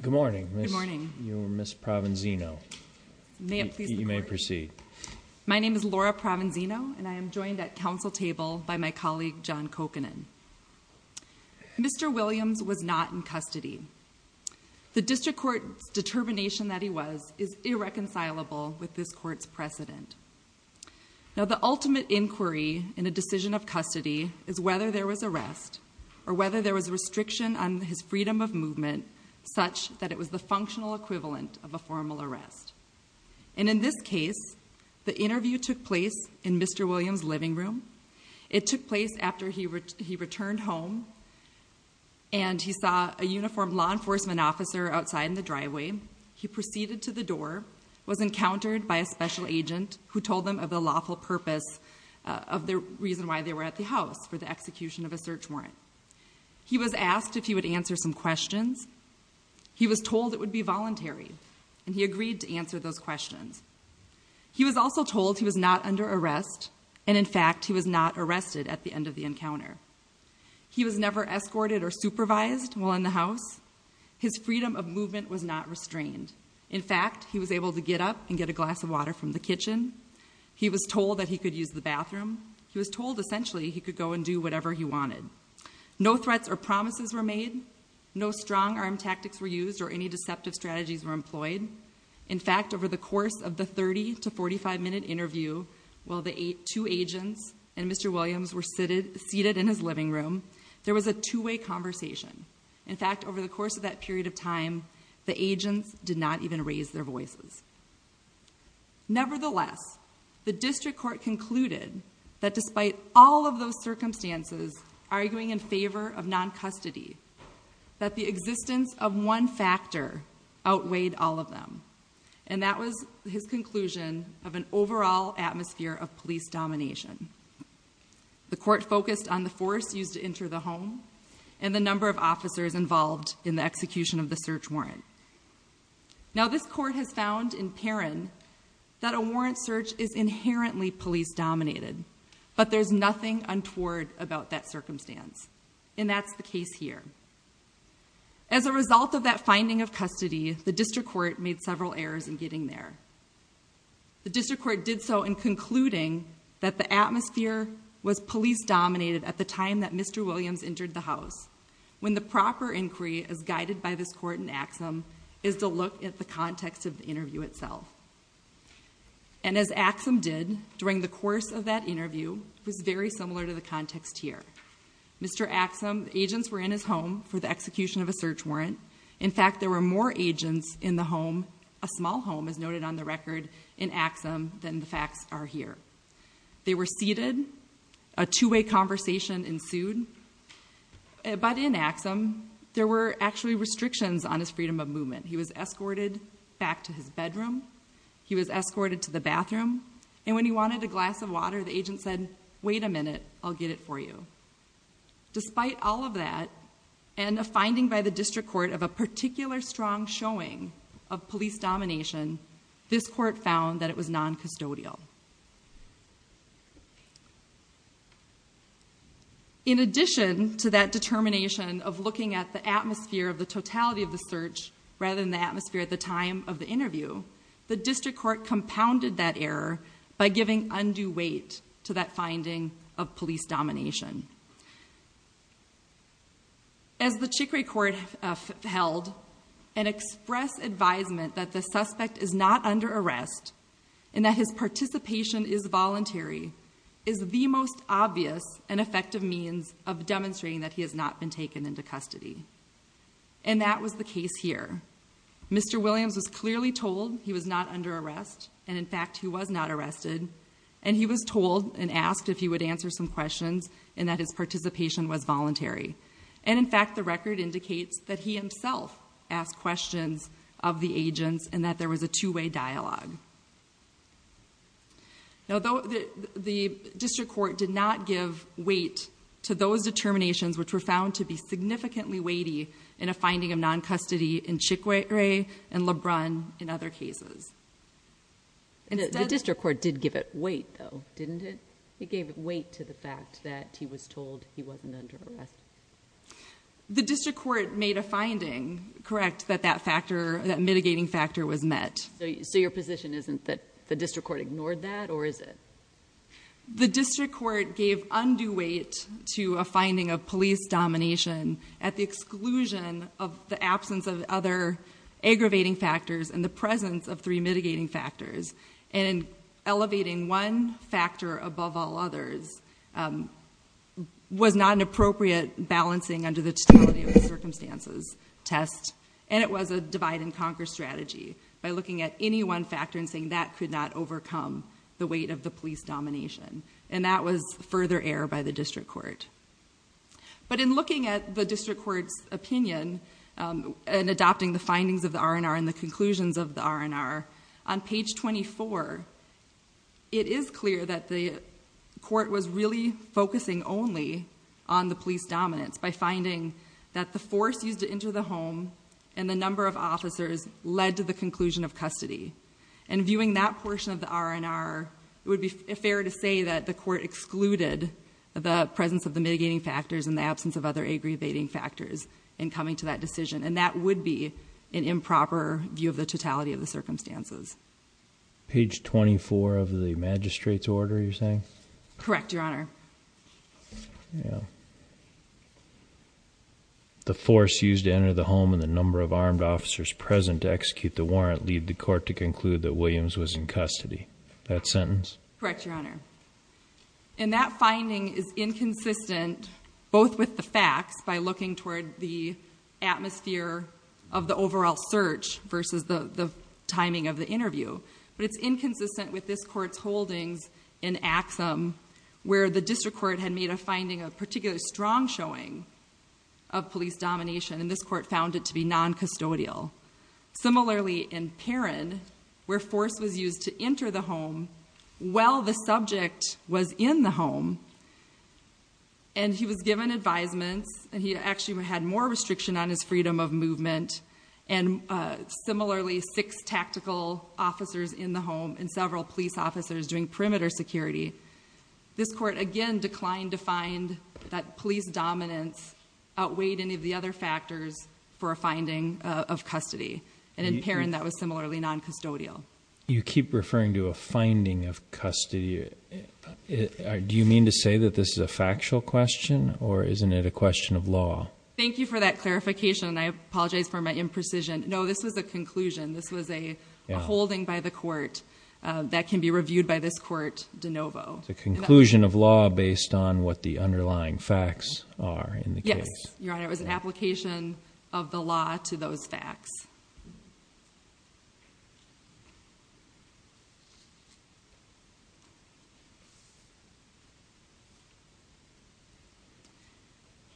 Good morning. You're Miss Provenzino. You may proceed. My name is Laura Provenzino and I am joined at council table by my colleague John Kokanen. Mr. Williams was not in custody. The district court's determination that he was is irreconcilable with this court's precedent. Now the ultimate inquiry in a decision of custody is whether there was arrest or whether there was restriction on his freedom of movement such that it was the functional equivalent of a formal arrest. And in this case, the interview took place in Mr. Williams' living room. It took place after he returned home and he saw a uniformed law enforcement officer outside in the driveway. He proceeded to the door, was encountered by a special agent who told them of the lawful purpose of the reason why they were at the house for the execution of a search warrant. He was asked if he would answer some questions. He was told it would be voluntary and he agreed to answer those questions. He was also told he was not under arrest and, in fact, he was not arrested at the end of the encounter. He was never escorted or supervised while in the house. His freedom of movement was not restrained. In fact, he was able to get up and get a glass of water from the kitchen. He was told that he could use the bathroom. He was told essentially he could go and do whatever he wanted. No threats or promises were made. No strong-arm tactics were used or any deceptive strategies were employed. In fact, over the course of the 30 to 45-minute interview, while the two agents and Mr. Williams were seated in his living room, there was a two-way conversation. In fact, over the course of that period of time, the agents did not even raise their voices. Nevertheless, the district court concluded that despite all of those circumstances arguing in favor of non-custody, that the existence of one factor outweighed all of them, and that was his conclusion of an overall atmosphere of police domination. The court focused on the force used to enter the home and the number of officers involved in the execution of the search warrant. Now, this court has found in Perrin that a warrant search is inherently police-dominated, but there's nothing untoward about that circumstance, and that's the case here. As a result of that finding of custody, the district court made several errors in getting there. The district court did so in concluding that the atmosphere was police-dominated at the time that Mr. Williams entered the house, when the proper inquiry as guided by this court in Axum is to look at the context of the interview itself. And as Axum did during the course of that interview, it was very similar to the context here. Mr. Axum, the agents were in his home for the execution of a search warrant. In fact, there were more agents in the home, a small home as noted on the record, in Axum than the facts are here. They were seated. A two-way conversation ensued. But in Axum, there were actually restrictions on his freedom of movement. He was escorted back to his bedroom. He was escorted to the bathroom. And when he wanted a glass of water, the agent said, wait a minute, I'll get it for you. Despite all of that, and a finding by the district court of a particular strong showing of police domination, this court found that it was non-custodial. In addition to that determination of looking at the atmosphere of the totality of the search, rather than the atmosphere at the time of the interview, the district court compounded that error by giving undue weight to that finding of police domination. As the Chicory Court held, an express advisement that the suspect is not under arrest and that his participation is voluntary, is the most obvious and effective means of demonstrating that he has not been taken into custody. And that was the case here. Mr. Williams was clearly told he was not under arrest. And in fact, he was not arrested. And he was told and asked if he would answer some questions and that his participation was voluntary. And in fact, the record indicates that he himself asked questions of the agents and that there was a two-way dialogue. Now, the district court did not give weight to those determinations which were found to be significantly weighty in a finding of non-custody in Chicory and Lebrun in other cases. The district court did give it weight, though, didn't it? It gave it weight to the fact that he was told he wasn't under arrest. The district court made a finding, correct, that that mitigating factor was met. So your position isn't that the district court ignored that, or is it? The district court gave undue weight to a finding of police domination at the exclusion of the absence of other aggravating factors and the presence of three mitigating factors. And elevating one factor above all others was not an appropriate balancing under the totality of the circumstances test. And it was a divide-and-conquer strategy by looking at any one factor and saying that could not overcome the weight of the police domination. And that was further error by the district court. But in looking at the district court's opinion and adopting the findings of the R&R and the conclusions of the R&R, on page 24, it is clear that the court was really focusing only on the police dominance by finding that the force used to enter the home and the number of officers led to the conclusion of custody. And viewing that portion of the R&R, it would be fair to say that the court excluded the presence of the mitigating factors and the absence of other aggravating factors in coming to that decision. And that would be an improper view of the totality of the circumstances. Page 24 of the magistrate's order, you're saying? Correct, Your Honor. The force used to enter the home and the number of armed officers present to execute the warrant lead the court to conclude that Williams was in custody. That sentence? Correct, Your Honor. And that finding is inconsistent both with the facts by looking toward the atmosphere of the overall search versus the timing of the interview. But it's inconsistent with this court's holdings in Axum where the district court had made a finding of particularly strong showing of police domination and this court found it to be non-custodial. Similarly, in Perrin, where force was used to enter the home while the subject was in the home and he was given advisements and he actually had more restriction on his freedom of movement and similarly, six tactical officers in the home and several police officers doing perimeter security this court, again, declined to find that police dominance outweighed any of the other factors for a finding of custody. And in Perrin, that was similarly non-custodial. You keep referring to a finding of custody. Do you mean to say that this is a factual question or isn't it a question of law? Thank you for that clarification and I apologize for my imprecision. No, this was a conclusion. This was a holding by the court that can be reviewed by this court de novo. It's a conclusion of law based on what the underlying facts are in the case. Yes, Your Honor. It was an application of the law to those facts.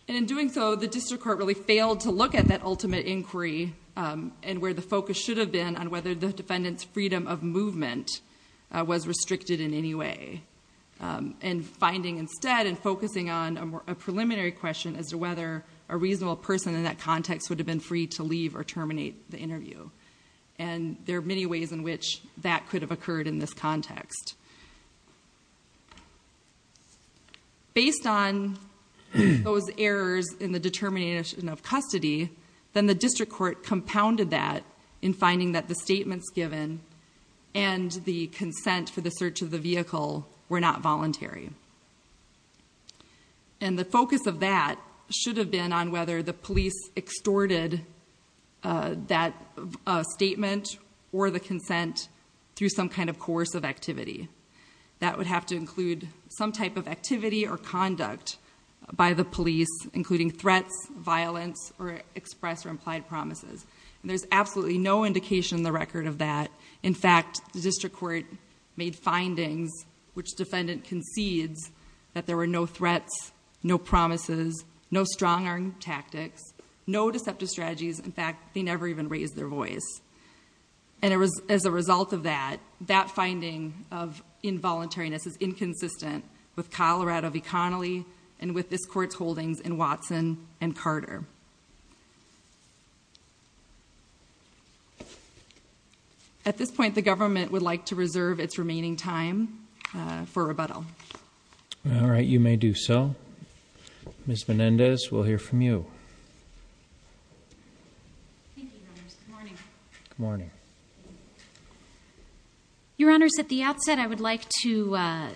And in doing so, the district court really failed to look at that ultimate inquiry and where the focus should have been on whether the defendant's freedom of movement was restricted in any way. And finding instead and focusing on a preliminary question as to whether a reasonable person in that context would have been free to leave or terminate the interview. And there are many ways in which that could have occurred in this context. Based on those errors in the determination of custody, then the district court compounded that in finding that the statements given and the consent for the search of the vehicle were not voluntary. And the focus of that should have been on whether the police extorted that statement or the consent through some kind of coercive activity. That would have to include some type of activity or conduct by the police, including threats, violence, or expressed or implied promises. And there's absolutely no indication in the record of that. In fact, the district court made findings which defendant concedes that there were no threats, no promises, no strong-arm tactics, no deceptive strategies. In fact, they never even raised their voice. And as a result of that, that finding of involuntariness is inconsistent with Colorado v. Connolly and with this court's holdings in Watson and Carter. At this point, the government would like to reserve its remaining time for rebuttal. All right. You may do so. Ms. Menendez, we'll hear from you. Thank you, Your Honors. Good morning. Good morning. Your Honors, at the outset, I would like to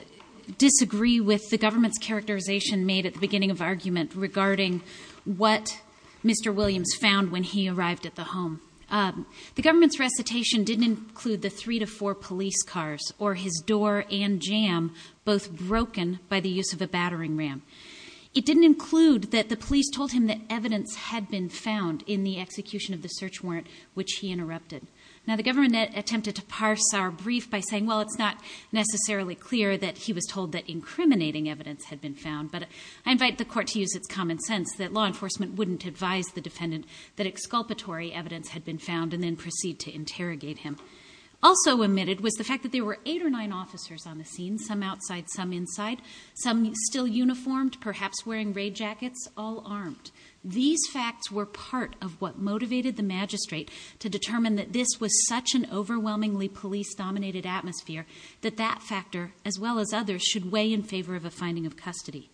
disagree with the government's characterization made at the beginning of argument regarding what Mr. Williams found when he arrived at the home. The government's recitation didn't include the three to four police cars or his door and jam, both broken by the use of a battering ram. It didn't include that the police told him that evidence had been found in the execution of the search warrant, which he interrupted. Now, the government attempted to parse our brief by saying, well, it's not necessarily clear that he was told that incriminating evidence had been found, but I invite the court to use its common sense that law enforcement wouldn't advise the defendant that exculpatory evidence had been found and then proceed to interrogate him. Also omitted was the fact that there were eight or nine officers on the scene, some outside, some inside, some still uniformed, perhaps wearing raid jackets, all armed. These facts were part of what motivated the magistrate to determine that this was such an overwhelmingly police-dominated atmosphere that that factor, as well as others, should weigh in favor of a finding of custody.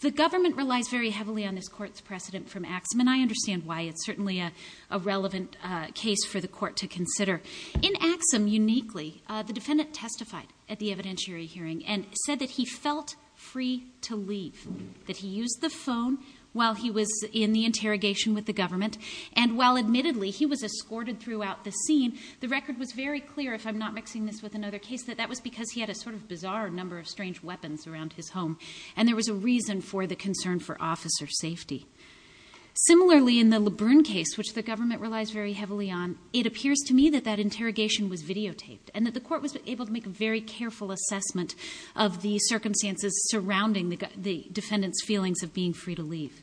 The government relies very heavily on this court's precedent from Axum, and I understand why it's certainly a relevant case for the court to consider. In Axum, uniquely, the defendant testified at the evidentiary hearing and said that he felt free to leave, that he used the phone while he was in the interrogation with the government, and while admittedly he was escorted throughout the scene, the record was very clear, if I'm not mixing this with another case, that that was because he had a sort of bizarre number of strange weapons around his home and there was a reason for the concern for officer safety. Similarly, in the LeBrun case, which the government relies very heavily on, it appears to me that that interrogation was videotaped and that the court was able to make a very careful assessment of the circumstances surrounding the defendant's feelings of being free to leave.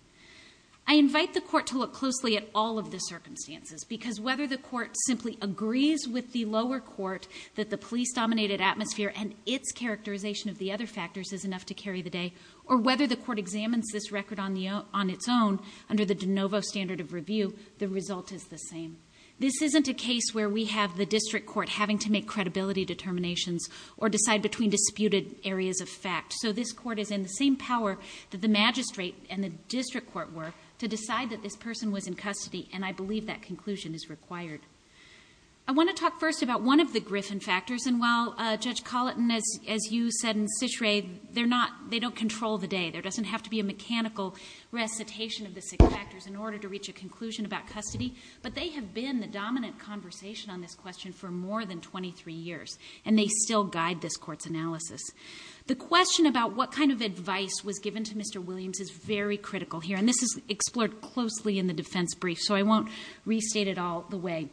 I invite the court to look closely at all of the circumstances, because whether the court simply agrees with the lower court that the police-dominated atmosphere and its characterization of the other factors is enough to carry the day, or whether the court examines this record on its own under the de novo standard of review, the result is the same. This isn't a case where we have the district court having to make credibility determinations or decide between disputed areas of fact. So this court is in the same power that the magistrate and the district court were to decide that this person was in custody, and I believe that conclusion is required. I want to talk first about one of the Griffin factors, and while Judge Colleton, as you said, and Cicere, they don't control the day. There doesn't have to be a mechanical recitation of the six factors in order to reach a conclusion about custody, but they have been the dominant conversation on this question for more than 23 years, and they still guide this court's analysis. The question about what kind of advice was given to Mr. Williams is very critical here, and this is explored closely in the defense brief, so I won't restate it all the way.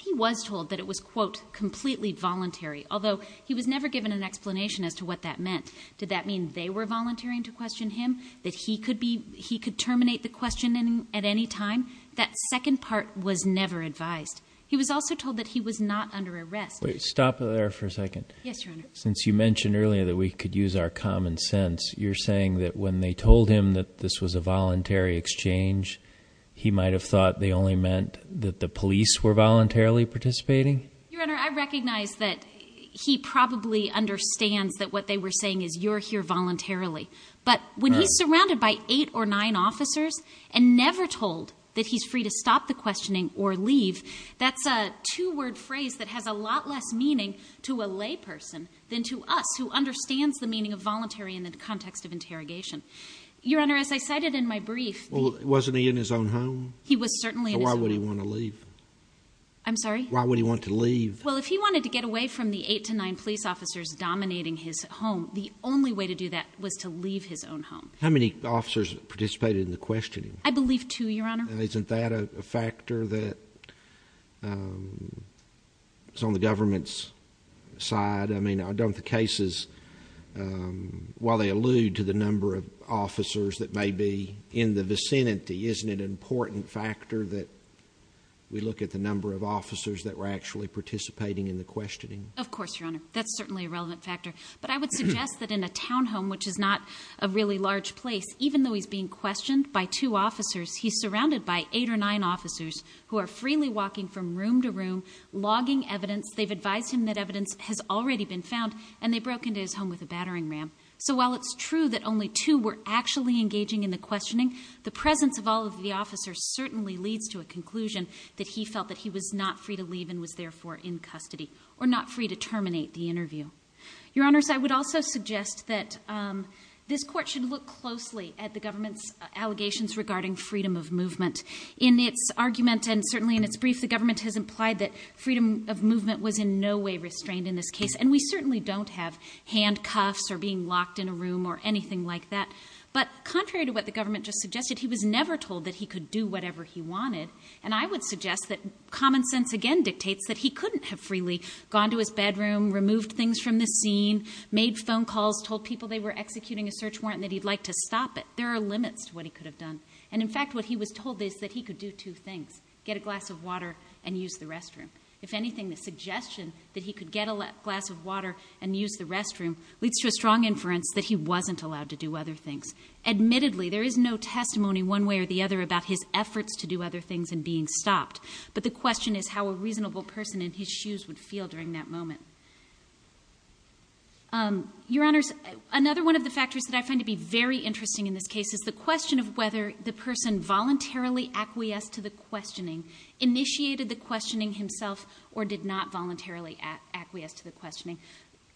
He was told that it was, quote, completely voluntary, although he was never given an explanation as to what that meant. Did that mean they were volunteering to question him, that he could terminate the questioning at any time? That second part was never advised. He was also told that he was not under arrest. Wait. Stop there for a second. Yes, Your Honor. Since you mentioned earlier that we could use our common sense, you're saying that when they told him that this was a voluntary exchange, he might have thought they only meant that the police were voluntarily participating? Your Honor, I recognize that he probably understands that what they were saying is you're here voluntarily, but when he's surrounded by eight or nine officers and never told that he's free to stop the questioning or leave, that's a two-word phrase that has a lot less meaning to a layperson than to us who understands the meaning of voluntary in the context of interrogation. Your Honor, as I cited in my brief, Well, wasn't he in his own home? He was certainly in his own home. So why would he want to leave? I'm sorry? Why would he want to leave? Well, if he wanted to get away from the eight to nine police officers dominating his home, the only way to do that was to leave his own home. How many officers participated in the questioning? I believe two, Your Honor. Isn't that a factor that's on the government's side? I mean, don't the cases, while they allude to the number of officers that may be in the vicinity, isn't it an important factor that we look at the number of officers that were actually participating in the questioning? Of course, Your Honor. That's certainly a relevant factor. But I would suggest that in a townhome, which is not a really large place, even though he's being questioned by two officers, he's surrounded by eight or nine officers who are freely walking from room to room, logging evidence. They've advised him that evidence has already been found, and they broke into his home with a battering ram. So while it's true that only two were actually engaging in the questioning, the presence of all of the officers certainly leads to a conclusion that he felt that he was not free to leave Your Honors, I would also suggest that this court should look closely at the government's allegations regarding freedom of movement. In its argument, and certainly in its brief, the government has implied that freedom of movement was in no way restrained in this case, and we certainly don't have handcuffs or being locked in a room or anything like that. But contrary to what the government just suggested, he was never told that he could do whatever he wanted, and I would suggest that common sense again dictates that he couldn't have freely gone to his bedroom, removed things from the scene, made phone calls, told people they were executing a search warrant and that he'd like to stop it. There are limits to what he could have done. And in fact, what he was told is that he could do two things, get a glass of water and use the restroom. If anything, the suggestion that he could get a glass of water and use the restroom leads to a strong inference that he wasn't allowed to do other things. Admittedly, there is no testimony one way or the other about his efforts to do other things and being stopped, but the question is how a reasonable person in his shoes would feel during that moment. Your Honors, another one of the factors that I find to be very interesting in this case is the question of whether the person voluntarily acquiesced to the questioning initiated the questioning himself or did not voluntarily acquiesce to the questioning.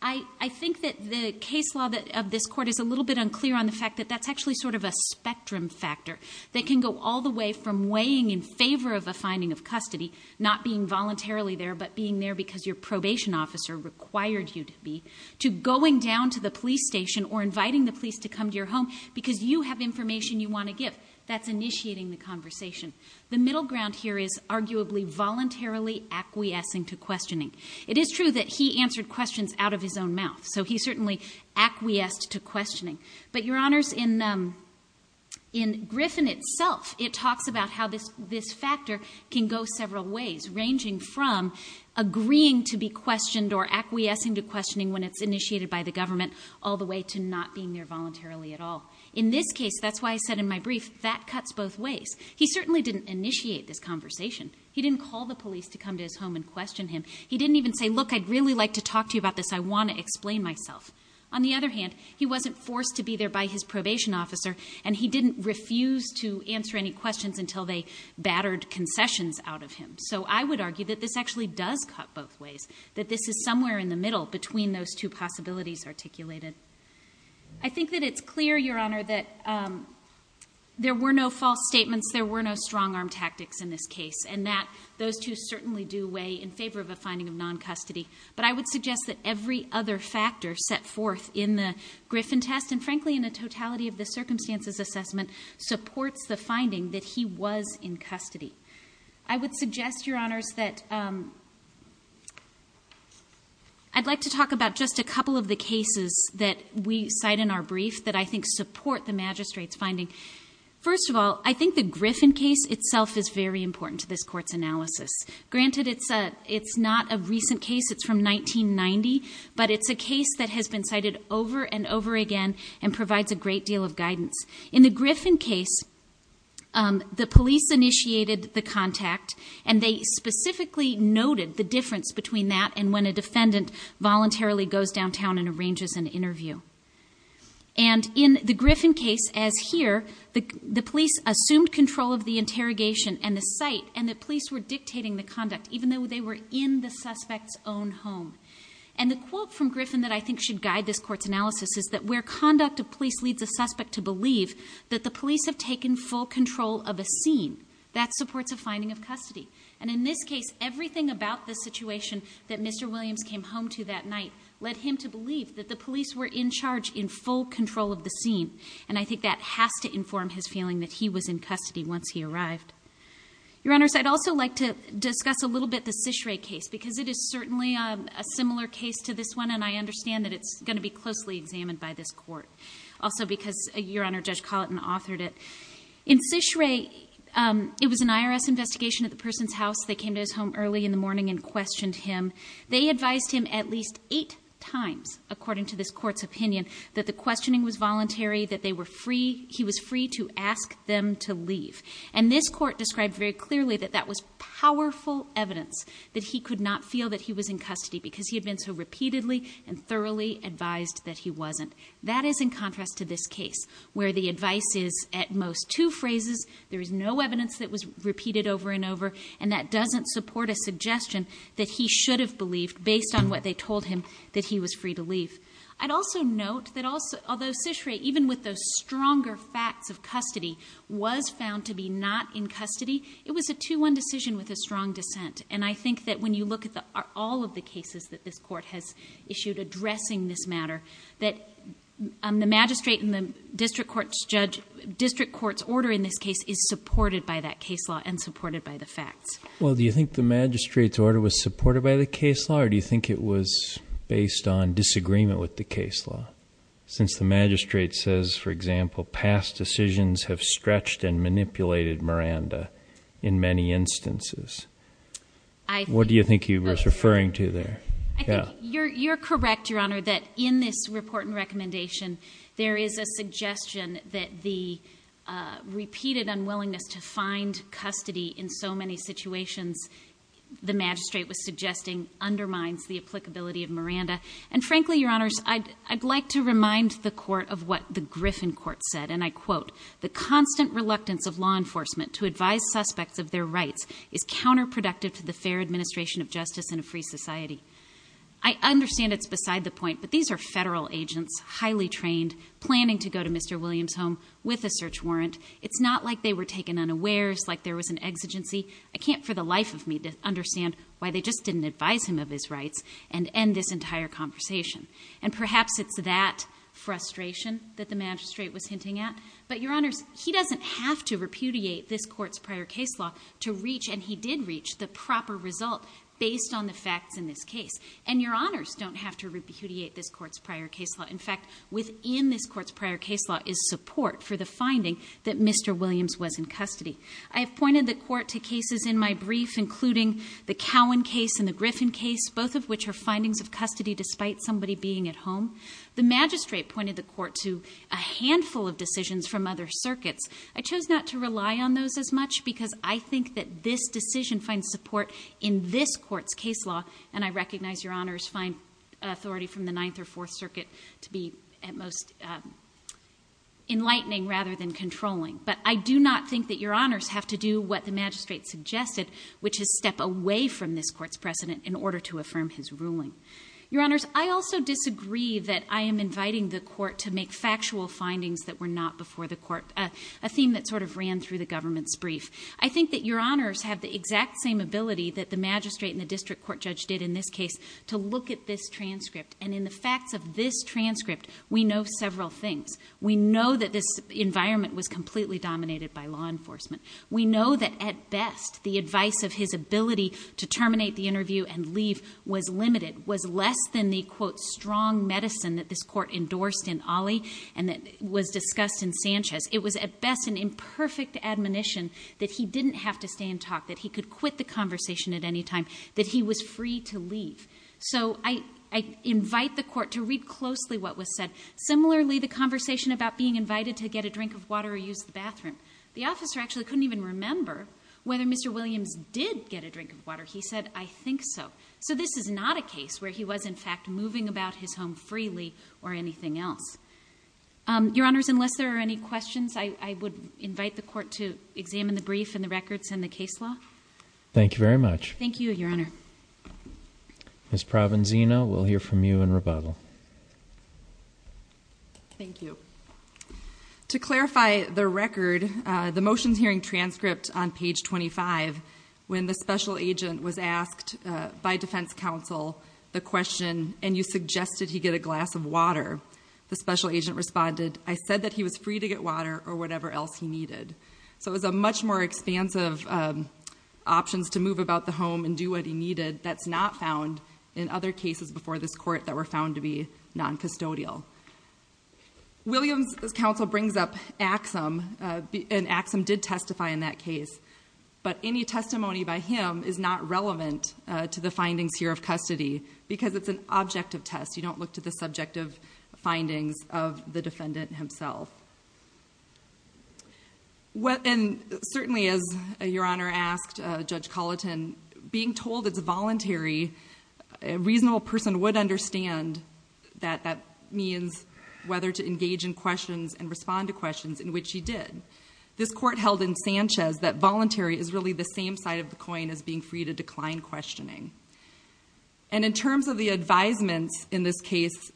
I think that the case law of this Court is a little bit unclear on the fact that that's actually sort of a spectrum factor that can go all the way from weighing in favor of a finding of custody, not being voluntarily there but being there because your probation officer required you to be, to going down to the police station or inviting the police to come to your home because you have information you want to give. That's initiating the conversation. The middle ground here is arguably voluntarily acquiescing to questioning. It is true that he answered questions out of his own mouth, so he certainly acquiesced to questioning. But, Your Honors, in Griffin itself, it talks about how this factor can go several ways, ranging from agreeing to be questioned or acquiescing to questioning when it's initiated by the government all the way to not being there voluntarily at all. In this case, that's why I said in my brief, that cuts both ways. He certainly didn't initiate this conversation. He didn't call the police to come to his home and question him. He didn't even say, look, I'd really like to talk to you about this. I want to explain myself. On the other hand, he wasn't forced to be there by his probation officer, and he didn't refuse to answer any questions until they battered concessions out of him. So I would argue that this actually does cut both ways, that this is somewhere in the middle between those two possibilities articulated. I think that it's clear, Your Honor, that there were no false statements, there were no strong-arm tactics in this case, and that those two certainly do weigh in favor of a finding of non-custody. But I would suggest that every other factor set forth in the Griffin test, and frankly in the totality of the circumstances assessment, supports the finding that he was in custody. I would suggest, Your Honors, that I'd like to talk about just a couple of the cases that we cite in our brief that I think support the magistrate's finding. First of all, I think the Griffin case itself is very important to this Court's analysis. Granted, it's not a recent case, it's from 1990, but it's a case that has been cited over and over again and provides a great deal of guidance. In the Griffin case, the police initiated the contact, and they specifically noted the difference between that and when a defendant voluntarily goes downtown and arranges an interview. And in the Griffin case, as here, the police assumed control of the interrogation and the site, and the police were dictating the conduct, even though they were in the suspect's own home. And the quote from Griffin that I think should guide this Court's analysis is that where conduct of police leads a suspect to believe that the police have taken full control of a scene, that supports a finding of custody. And in this case, everything about the situation that Mr. Williams came home to that night led him to believe that the police were in charge in full control of the scene, and I think that has to inform his feeling that he was in custody once he arrived. Your Honors, I'd also like to discuss a little bit the Cichre case, because it is certainly a similar case to this one, and I understand that it's going to be closely examined by this Court. Also because, Your Honor, Judge Colleton authored it. In Cichre, it was an IRS investigation at the person's house. They came to his home early in the morning and questioned him. They advised him at least eight times, according to this Court's opinion, that the questioning was voluntary, that he was free to ask them to leave. And this Court described very clearly that that was powerful evidence that he could not feel that he was in custody because he had been so repeatedly and thoroughly advised that he wasn't. That is in contrast to this case, where the advice is at most two phrases, there is no evidence that was repeated over and over, and that doesn't support a suggestion that he should have believed based on what they told him that he was free to leave. I'd also note that although Cichre, even with those stronger facts of custody, was found to be not in custody, it was a 2-1 decision with a strong dissent. And I think that when you look at all of the cases that this Court has issued addressing this matter, that the magistrate and the district court's order in this case is supported by that case law and supported by the facts. Well, do you think the magistrate's order was supported by the case law, or do you think it was based on disagreement with the case law? Since the magistrate says, for example, past decisions have stretched and manipulated Miranda in many instances. What do you think he was referring to there? You're correct, Your Honor, that in this report and recommendation, there is a suggestion that the repeated unwillingness to find custody in so many situations the magistrate was suggesting undermines the applicability of Miranda. And frankly, Your Honors, I'd like to remind the Court of what the Griffin Court said, and I quote, the constant reluctance of law enforcement to advise suspects of their rights is counterproductive to the fair administration of justice in a free society. I understand it's beside the point, but these are federal agents, highly trained, planning to go to Mr. Williams' home with a search warrant. It's not like they were taken unawares, like there was an exigency. I can't for the life of me understand why they just didn't advise him of his rights and end this entire conversation. And perhaps it's that frustration that the magistrate was hinting at, but Your Honors, he doesn't have to repudiate this court's prior case law to reach, and he did reach, the proper result based on the facts in this case. And Your Honors don't have to repudiate this court's prior case law. In fact, within this court's prior case law is support for the finding that Mr. Williams was in custody. I have pointed the court to cases in my brief, including the Cowan case and the Griffin case, both of which are findings of custody despite somebody being at home. The magistrate pointed the court to a handful of decisions from other circuits. I chose not to rely on those as much because I think that this decision finds support in this court's case law, and I recognize Your Honors find authority from the Ninth or Fourth Circuit to be at most enlightening rather than controlling, but I do not think that Your Honors have to do what the magistrate suggested, which is step away from this court's precedent in order to affirm his ruling. Your Honors, I also disagree that I am inviting the court to make factual findings that were not before the court, a theme that sort of ran through the government's brief. I think that Your Honors have the exact same ability that the magistrate and the district court judge did in this case to look at this transcript, and in the facts of this transcript, we know several things. We know that this environment was completely dominated by law enforcement. We know that, at best, the advice of his ability to terminate the interview and leave was limited, was less than the, quote, strong medicine that this court endorsed in Ali and that was discussed in Sanchez. It was, at best, an imperfect admonition that he didn't have to stay and talk, that he could quit the conversation at any time, that he was free to leave. So I invite the court to read closely what was said. Similarly, the conversation about being invited to get a drink of water or use the bathroom, the officer actually couldn't even remember whether Mr. Williams did get a drink of water. He said, I think so. So this is not a case where he was, in fact, moving about his home freely or anything else. Your Honors, unless there are any questions, I would invite the court to examine the brief and the records and the case law. Thank you very much. Thank you, Your Honor. Ms. Provenzino, we'll hear from you in rebuttal. Thank you. To clarify the record, the motions hearing transcript on page 25, when the special agent was asked by defense counsel the question, and you suggested he get a glass of water, the special agent responded, I said that he was free to get water or whatever else he needed. So it was a much more expansive options to move about the home and do what he needed that's not found in other cases before this court that were found to be noncustodial. Williams' counsel brings up Axum, and Axum did testify in that case. But any testimony by him is not relevant to the findings here of custody because it's an objective test. You don't look to the subjective findings of the defendant himself. Certainly, as Your Honor asked Judge Colleton, being told it's voluntary, a reasonable person would understand that that means whether to engage in questions and respond to questions, in which he did. This court held in Sanchez that voluntary is really the same side of the coin as being free to decline questioning. And in terms of the advisements in this case,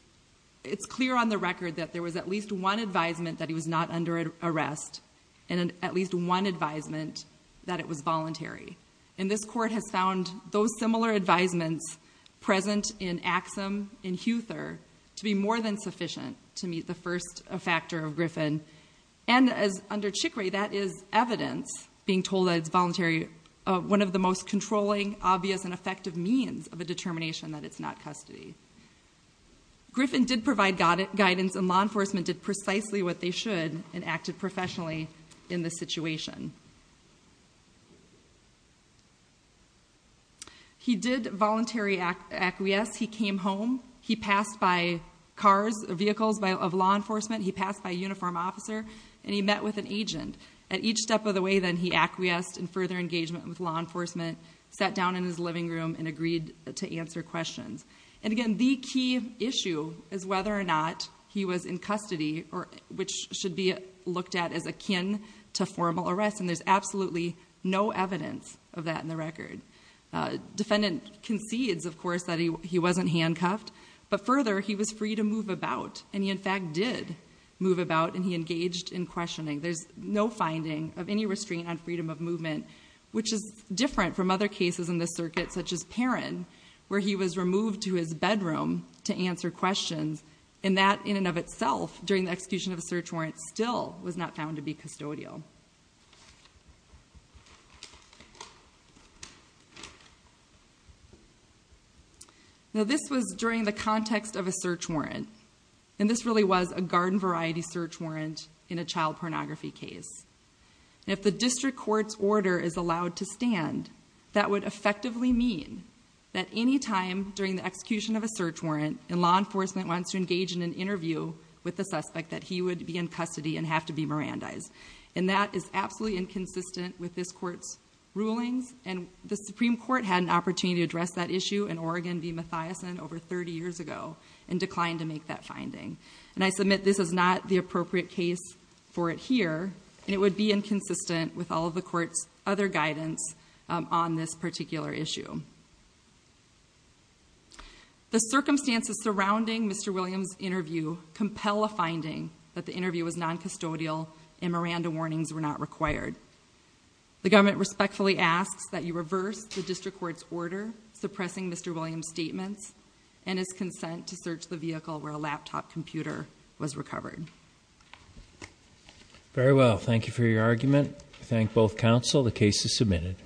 it's clear on the record that there was at least one advisement that he was not under arrest and at least one advisement that it was voluntary. And this court has found those similar advisements present in Axum, in Huther, to be more than sufficient to meet the first factor of Griffin. And under Chicory, that is evidence, being told that it's voluntary, one of the most controlling, obvious, and effective means of a determination that it's not custody. Griffin did provide guidance, and law enforcement did precisely what they should and acted professionally in this situation. He did voluntary acquiesce. He came home. He passed by cars, vehicles of law enforcement. He passed by a uniformed officer, and he met with an agent. At each step of the way, then, he acquiesced in further engagement with law enforcement, sat down in his living room, and agreed to answer questions. And again, the key issue is whether or not he was in custody, which should be looked at as akin to formal arrest, and there's absolutely no evidence of that in the record. Defendant concedes, of course, that he wasn't handcuffed, but further, he was free to move about, and he in fact did move about, and he engaged in questioning. There's no finding of any restraint on freedom of movement, which is different from other cases in this circuit, such as Perrin, where he was removed to his bedroom to answer questions, and that, in and of itself, during the execution of a search warrant, still was not found to be custodial. Now, this was during the context of a search warrant, and this really was a garden variety search warrant in a child pornography case. And if the district court's order is allowed to stand, that would effectively mean that any time during the execution of a search warrant, and law enforcement wants to engage in an interview with the suspect, that he would be in custody and have to be Mirandized. And that is absolutely inconsistent with this court's rulings, and the Supreme Court had an opportunity to address that issue in Oregon v. Mathiason over 30 years ago and declined to make that finding. And I submit this is not the appropriate case for it here, and it would be inconsistent with all of the court's other guidance on this particular issue. The circumstances surrounding Mr. Williams' interview compel a finding that the interview was non-custodial and Miranda warnings were not required. The government respectfully asks that you reverse the district court's order suppressing Mr. Williams' statements and his consent to search the vehicle where a laptop computer was recovered. Very well. Thank you for your argument. I thank both counsel. The case is submitted.